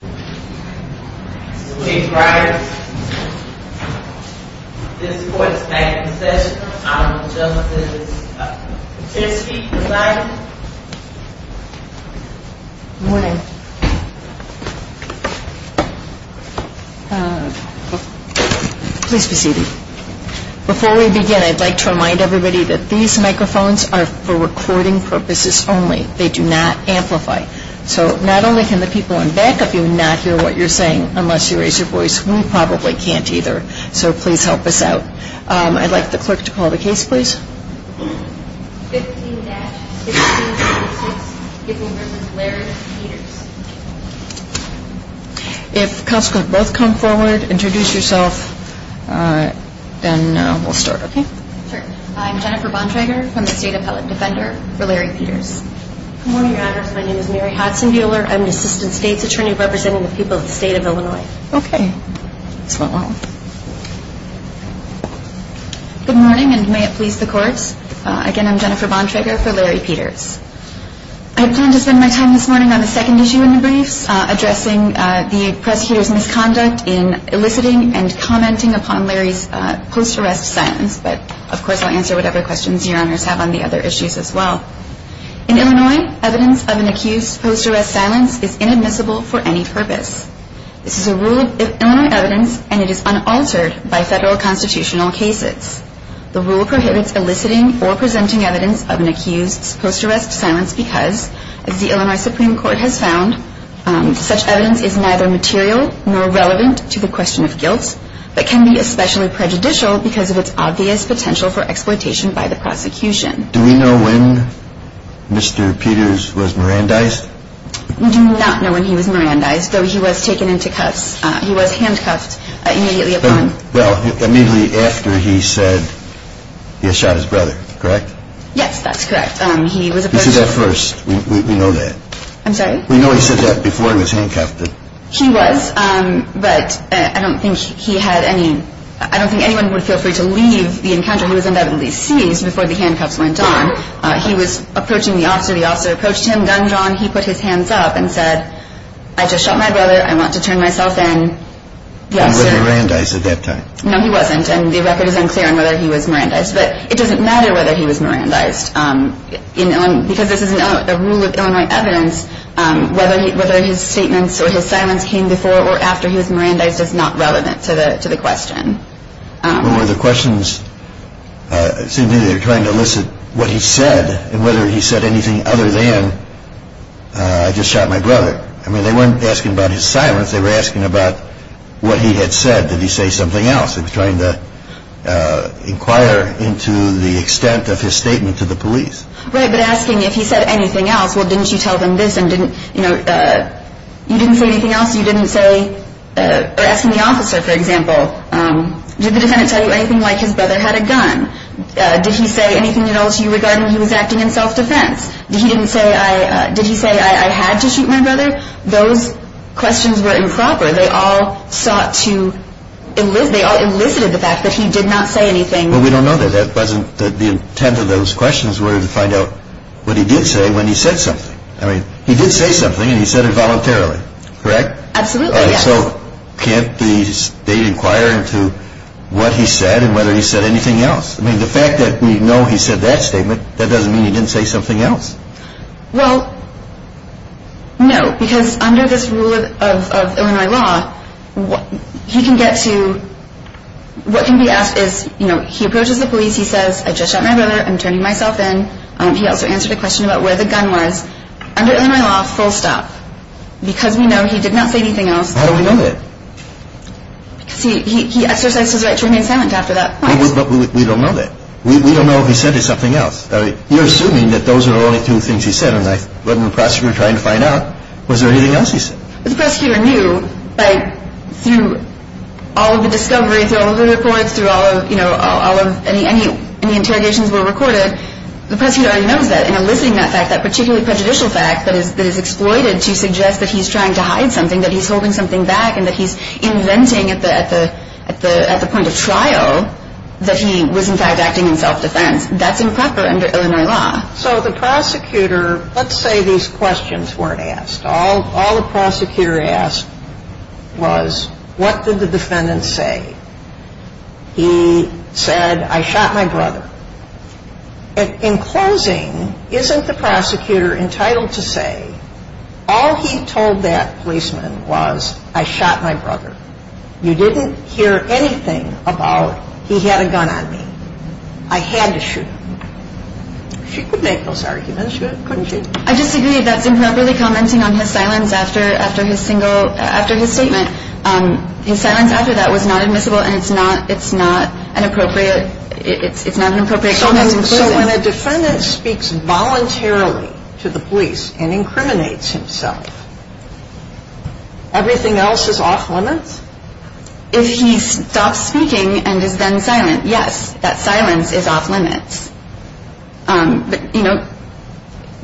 Good morning. Please be seated. Before we begin, I'd like to remind everybody that these microphones are for recording purposes only. They do not amplify. So not only can the people in back of you not hear what you're saying unless you raise your voice, we probably can't either. So please help us out. I'd like the clerk to call the case, please. I'm Jennifer Bontrager from the State Appellate Defender for Larry Peters. Good morning, Your Honors. My name is Mary Hodson Buehler. I'm an Assistant State's Attorney representing the people of the State of Illinois. Good morning, and may it please the Court. Again, I'm Jennifer Bontrager for Larry Peters. I plan to spend my time this morning on the second issue in the briefs, addressing the prosecutor's misconduct in eliciting and commenting upon Larry's post-arrest silence, but of course I'll answer whatever questions Your Honors have on the other issues as well. In Illinois, evidence of an accused's post-arrest silence is inadmissible for any purpose. This is a rule of Illinois evidence and it is unaltered by federal constitutional cases. The rule prohibits eliciting or presenting evidence of an accused's post-arrest silence because, as the Illinois Supreme Court has found, such evidence is neither material nor relevant to the question of guilt, but can be especially prejudicial because of its obvious potential for exploitation by the prosecution. Do we know when Mr. Peters was Mirandized? We do not know when he was Mirandized, though he was taken into cuffs. He was handcuffed immediately upon... Well, immediately after he said he had shot his brother, correct? Yes, that's correct. He was... He said that first. We know that. I'm sorry? We know he said that before he was handcuffed. He was, but I don't think he had any... I don't think anyone would feel free to leave the encounter. He was undoubtedly seized before the handcuffs went on. He was approaching the officer. The officer approached him, gunned on. He put his hands up and said, I just shot my brother. I want to turn myself in. He wasn't Mirandized at that time. No, he wasn't, and the record is unclear on whether he was Mirandized, but it doesn't matter whether he was Mirandized. Because this is a rule of Illinois evidence, whether his statements or his silence came before or after he was Mirandized is not relevant to the question. What were the questions? It seemed to me they were trying to elicit what he said and whether he said anything other than, I just shot my brother. I mean, they weren't asking about his silence. They were asking about what he had said. Did he say something else? They were trying to inquire into the extent of his statement to the police. Right, but asking if he said anything else, well, didn't you tell them this and didn't, you know, you didn't say anything else? You didn't say, or asking the officer, for example, did the defendant tell you anything like his brother had a gun? Did he say anything at all to you regarding he was acting in self-defense? Did he say I had to shoot my brother? Those questions were improper. They all sought to, they all elicited the fact that he did not say anything. Well, we don't know that. That wasn't the intent of those questions were to find out what he did say when he said something. I mean, he did say something and he said it voluntarily, correct? Absolutely, yes. So can't they inquire into what he said and whether he said anything else? I mean, the fact that we know he said that statement, that doesn't mean he didn't say something else. Well, no, because under this rule of Illinois law, he can get to, what can be asked is, you know, he approaches the police, he says, I just shot my brother, I'm turning myself in. He also answered the question about where the gun was. Under Illinois law, full stop. Because we know he did not say anything else. How do we know that? Because he exercised his right to remain silent after that point. But we don't know that. We don't know if he said something else. You're assuming that those are the only two things he said. And when the prosecutor tried to find out, was there anything else he said? The prosecutor knew, like, through all of the discoveries, through all of the reports, through all of, you know, any interrogations were recorded, the prosecutor already knows that. And eliciting that fact, that particularly prejudicial fact that is exploited to suggest that he's trying to hide something, that he's holding something back, and that he's inventing at the point of trial that he was, in fact, acting in self-defense, that's improper under Illinois law. So the prosecutor, let's say these questions weren't asked. All the prosecutor asked was, what did the defendant say? He said, I shot my brother. And in closing, isn't the prosecutor entitled to say, all he told that policeman was, I shot my brother. You didn't hear anything about, he had a gun on me. I had to shoot him. She could make those arguments, couldn't she? I disagree. That's improperly commenting on his silence after his single, after his statement. His silence after that was not admissible, and it's not, it's not an appropriate, it's not an appropriate comment in closing. So when a defendant speaks voluntarily to the police and incriminates himself, everything else is off limits? If he stops speaking and is then silent, yes, that silence is off limits. But, you know,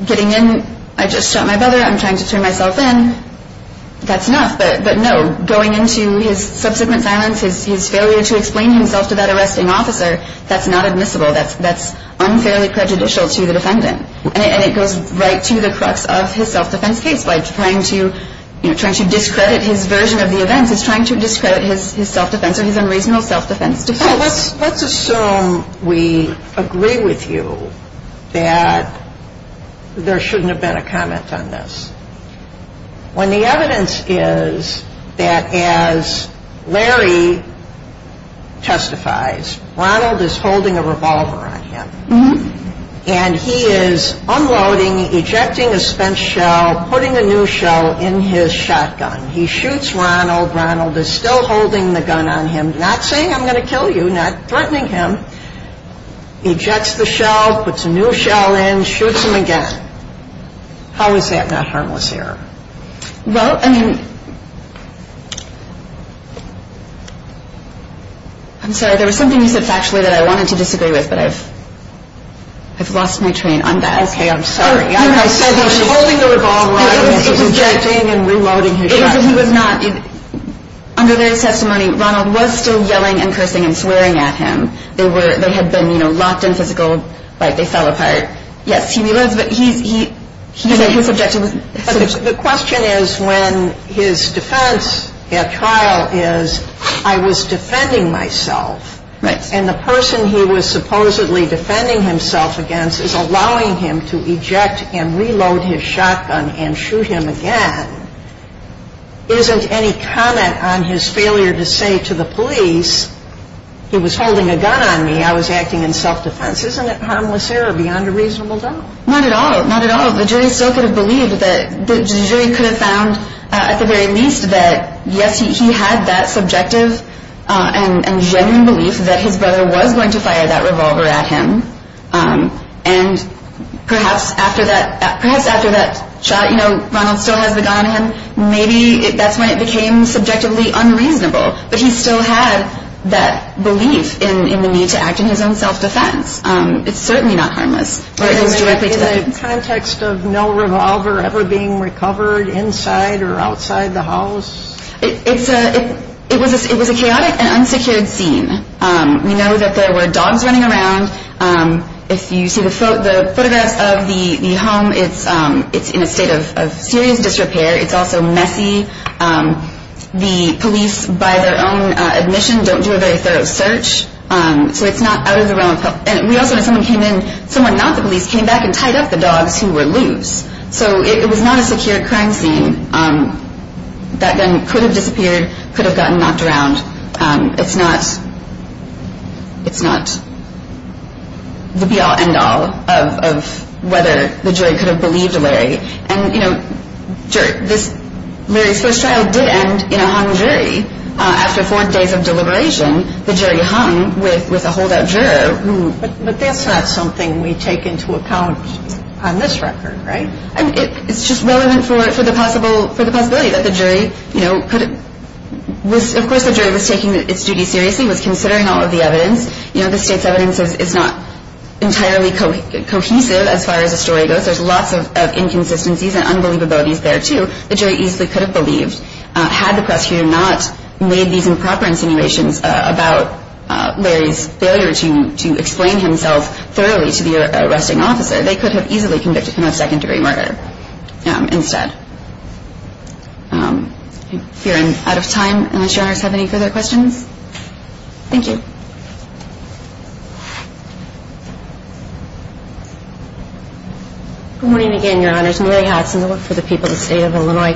getting in, I just shot my brother, I'm trying to turn myself in, that's enough. But no, going into his subsequent silence, his failure to explain himself to that arresting officer, that's not admissible. That's unfairly prejudicial to the defendant. And it goes right to the crux of his self-defense case by trying to, you know, trying to discredit his version of the events. It's trying to discredit his self-defense or his unreasonable self-defense defense. Well, let's assume we agree with you that there shouldn't have been a comment on this. When the evidence is that as Larry testifies, Ronald is holding a revolver on him. And he is unloading, ejecting a spent shell, putting a new shell in his shotgun. He shoots Ronald, Ronald is still holding the gun on him, not saying I'm going to kill you, not threatening him. Ejects the shell, puts a new shell in, shoots him again. How is that not harmless here? Well, I mean, I'm sorry, there was something you said factually that I wanted to disagree with, but I've lost my train on that. Okay, I'm sorry. I said he was holding the revolver, I was ejecting and reloading his shotgun. It was not, under Larry's testimony, Ronald was still yelling and cursing and swearing at him. They were, they had been, you know, locked in physical, like they fell apart. Yes, he was, but he said his objective was. The question is when his defense at trial is I was defending myself. Right. And the person he was supposedly defending himself against is allowing him to eject and reload his shotgun and shoot him again. Isn't any comment on his failure to say to the police, he was holding a gun on me, I was acting in self-defense. Isn't it harmless here or beyond a reasonable doubt? Not at all, not at all. The jury still could have believed that, the jury could have found at the very least that yes, he had that subjective and genuine belief that his brother was going to fire that revolver at him. And perhaps after that, perhaps after that shot, you know, Ronald still has the gun on him, maybe that's when it became subjectively unreasonable. But he still had that belief in the need to act in his own self-defense. It's certainly not harmless. In the context of no revolver ever being recovered inside or outside the house? It was a chaotic and unsecured scene. We know that there were dogs running around. If you see the photographs of the home, it's in a state of serious disrepair. It's also messy. The police, by their own admission, don't do a very thorough search. So it's not out of the realm of help. And we also know someone came in, someone not the police, came back and tied up the dogs who were loose. So it was not a secure crime scene. That gun could have disappeared, could have gotten knocked around. It's not the be-all, end-all of whether the jury could have believed Larry. And, you know, Larry's first trial did end in a hung jury. After four days of deliberation, the jury hung with a holdout juror. But that's not something we take into account on this record, right? It's just relevant for the possibility that the jury, you know, could have – of course the jury was taking its duty seriously, was considering all of the evidence. You know, the state's evidence is not entirely cohesive as far as the story goes. There's lots of inconsistencies and unbelievabilities there, too. The jury easily could have believed, had the press here not made these improper insinuations about Larry's failure to explain himself thoroughly to the arresting officer, they could have easily convicted him of second-degree murder instead. I fear I'm out of time, unless Your Honors have any further questions. Thank you. Good morning again, Your Honors. Mary Hudson with the People of the State of Illinois.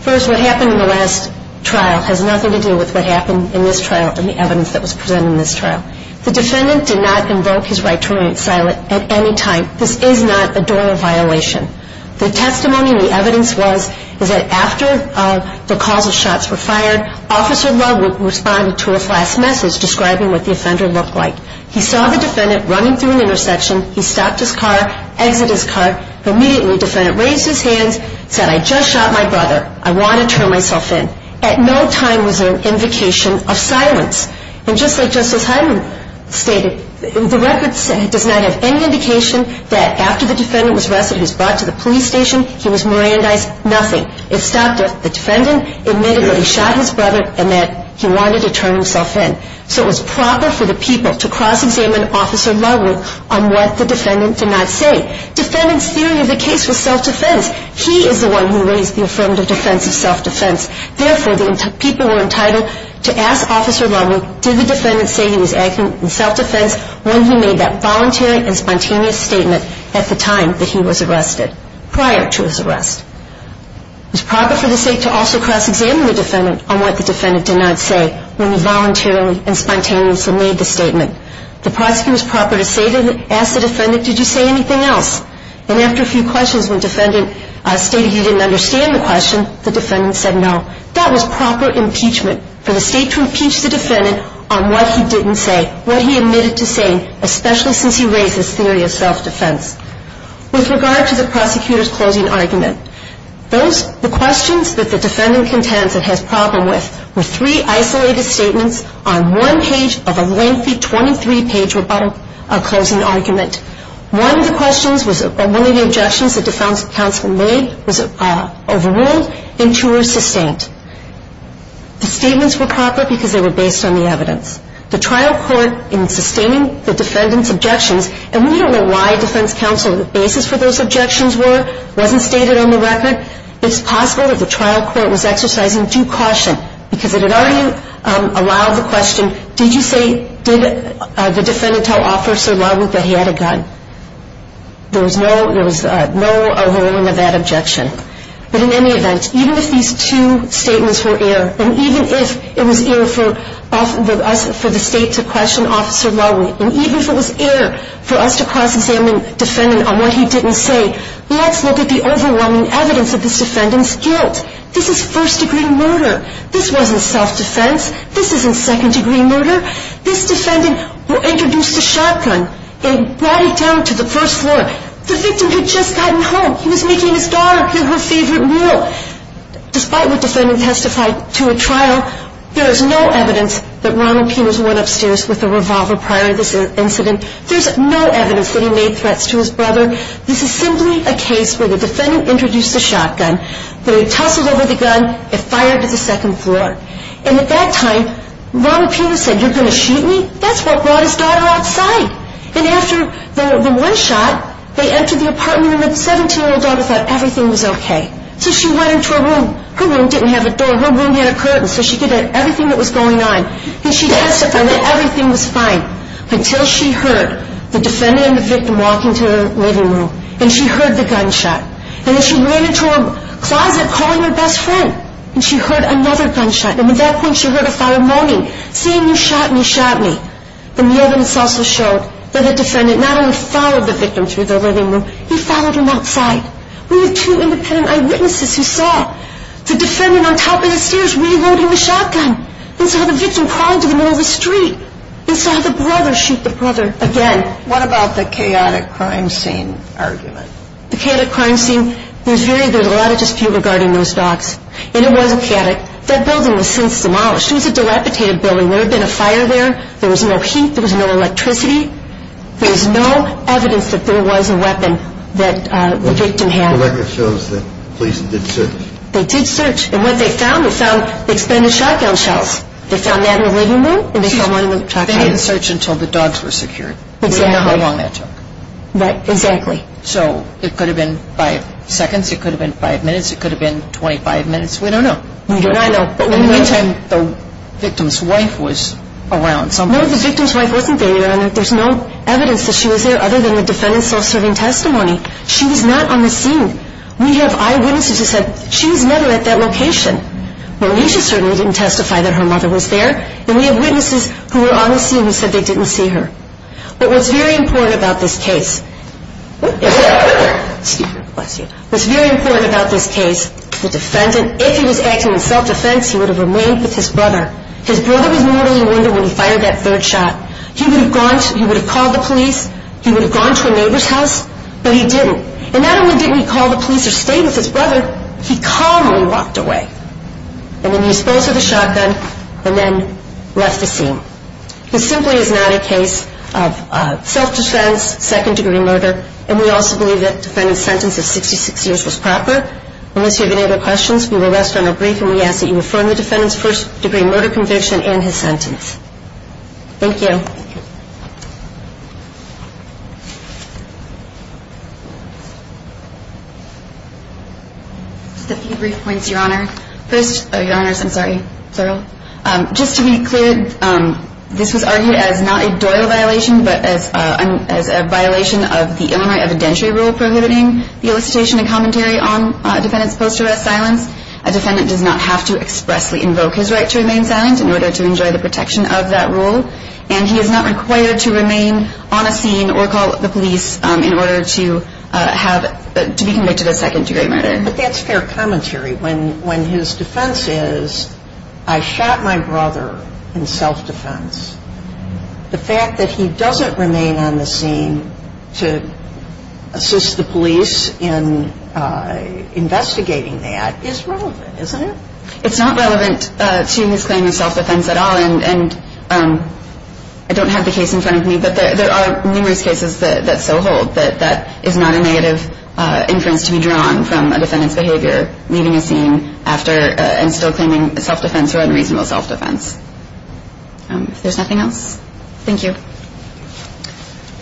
First, what happened in the last trial has nothing to do with what happened in this trial and the evidence that was presented in this trial. The defendant did not invoke his right to remain silent at any time. This is not a door violation. The testimony and the evidence was that after the calls of shots were fired, Officer Love responded to a flash message describing what the offender looked like. He saw the defendant running through an intersection. He stopped his car, exited his car. Immediately, the defendant raised his hands, said, I just shot my brother. I want to turn myself in. At no time was there an invocation of silence. And just like Justice Hyman stated, the record does not have any indication that after the defendant was arrested, he was brought to the police station, he was merandized, nothing. It stopped at the defendant admitting that he shot his brother and that he wanted to turn himself in. So it was proper for the people to cross-examine Officer Love on what the defendant did not say. Defendant's theory of the case was self-defense. He is the one who raised the affirmative defense of self-defense. Therefore, the people were entitled to ask Officer Love, did the defendant say he was acting in self-defense when he made that voluntary and spontaneous statement at the time that he was arrested, prior to his arrest. It was proper for the state to also cross-examine the defendant on what the defendant did not say when he voluntarily and spontaneously made the statement. The prosecutor was proper to ask the defendant, did you say anything else? And after a few questions, when the defendant stated he didn't understand the question, the defendant said no. That was proper impeachment, for the state to impeach the defendant on what he didn't say, what he admitted to saying, especially since he raised his theory of self-defense. With regard to the prosecutor's closing argument, the questions that the defendant contends and has a problem with were three isolated statements on one page of a lengthy 23-page rebuttal of closing argument. One of the objections the defense counsel made was overruled and two were sustained. The statements were proper because they were based on the evidence. The trial court, in sustaining the defendant's objections, and we don't know why defense counsel the basis for those objections were, wasn't stated on the record, it's possible that the trial court was exercising due caution because it had already allowed the question, did the defendant tell Officer Lowey that he had a gun? There was no overruling of that objection. But in any event, even if these two statements were air, and even if it was air for the state to question Officer Lowey, and even if it was air for us to cross-examine the defendant on what he didn't say, this is first-degree murder. This wasn't self-defense. This isn't second-degree murder. This defendant introduced a shotgun and brought it down to the first floor. The victim had just gotten home. He was making his daughter give her favorite meal. Despite what the defendant testified to a trial, there is no evidence that Ronald Pino's went upstairs with a revolver prior to this incident. There's no evidence that he made threats to his brother. This is simply a case where the defendant introduced a shotgun, they tussled over the gun, it fired to the second floor. And at that time, Ronald Pino said, you're going to shoot me? That's what brought his daughter outside. And after the one shot, they entered the apartment, and the 17-year-old daughter thought everything was okay. So she went into her room. Her room didn't have a door. Her room had a curtain, so she could have everything that was going on. And she testified that everything was fine until she heard the defendant and the victim walking to her living room, and she heard the gunshot. And then she ran into her closet, calling her best friend, and she heard another gunshot. And at that point, she heard a fire moaning, saying, you shot me, shot me. And the evidence also showed that the defendant not only followed the victim through the living room, he followed him outside. We have two independent eyewitnesses who saw the defendant on top of the stairs reloading the shotgun. They saw the victim crawling to the middle of the street. They saw the brother shoot the brother again. What about the chaotic crime scene argument? The chaotic crime scene, there's a lot of dispute regarding those dogs. And it was chaotic. That building was since demolished. It was a dilapidated building. There had been a fire there. There was no heat. There was no electricity. There was no evidence that there was a weapon that the victim had. The record shows that police did search. They did search. And what they found, they found expanded shotgun shells. They found that in the living room, and they found one in the truck. They didn't search until the dogs were secured. Exactly. We don't know how long that took. Exactly. So it could have been five seconds. It could have been five minutes. It could have been 25 minutes. We don't know. We do not know. But in the meantime, the victim's wife was around somewhere. No, the victim's wife wasn't there, Your Honor. There's no evidence that she was there other than the defendant's self-serving testimony. She was not on the scene. We have eyewitnesses who said she was never at that location. Marisha certainly didn't testify that her mother was there. And we have witnesses who were on the scene who said they didn't see her. But what's very important about this case is the defendant. If he was acting in self-defense, he would have remained with his brother. His brother was mortally wounded when he fired that third shot. He would have called the police. He would have gone to a neighbor's house. But he didn't. And not only didn't he call the police or stay with his brother, he calmly walked away. And then he disposed of the shotgun and then left the scene. This simply is not a case of self-defense, second-degree murder. And we also believe that the defendant's sentence of 66 years was proper. Unless you have any other questions, we will rest on our brief, and we ask that you affirm the defendant's first-degree murder conviction and his sentence. Thank you. Just a few brief points, Your Honor. First, Your Honors, I'm sorry. Just to be clear, this was argued as not a Doyle violation, but as a violation of the Illinois evidentiary rule prohibiting the elicitation and commentary on a defendant's post-arrest silence. A defendant does not have to expressly invoke his right to remain silent in order to enjoy the protection of that rule. And he is not required to remain on a scene or call the police in order to be convicted of a second-degree murder. But that's fair commentary. When his defense is, I shot my brother in self-defense, the fact that he doesn't remain on the scene to assist the police in investigating that is relevant, isn't it? It's not relevant to his claim of self-defense at all. And I don't have the case in front of me, but there are numerous cases that so hold that that is not a negative inference to be drawn from a defendant's behavior leaving a scene and still claiming self-defense or unreasonable self-defense. If there's nothing else, thank you.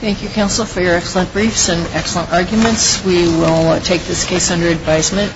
Thank you, counsel, for your excellent briefs and excellent arguments. We will take this case under advisement and court is adjourned.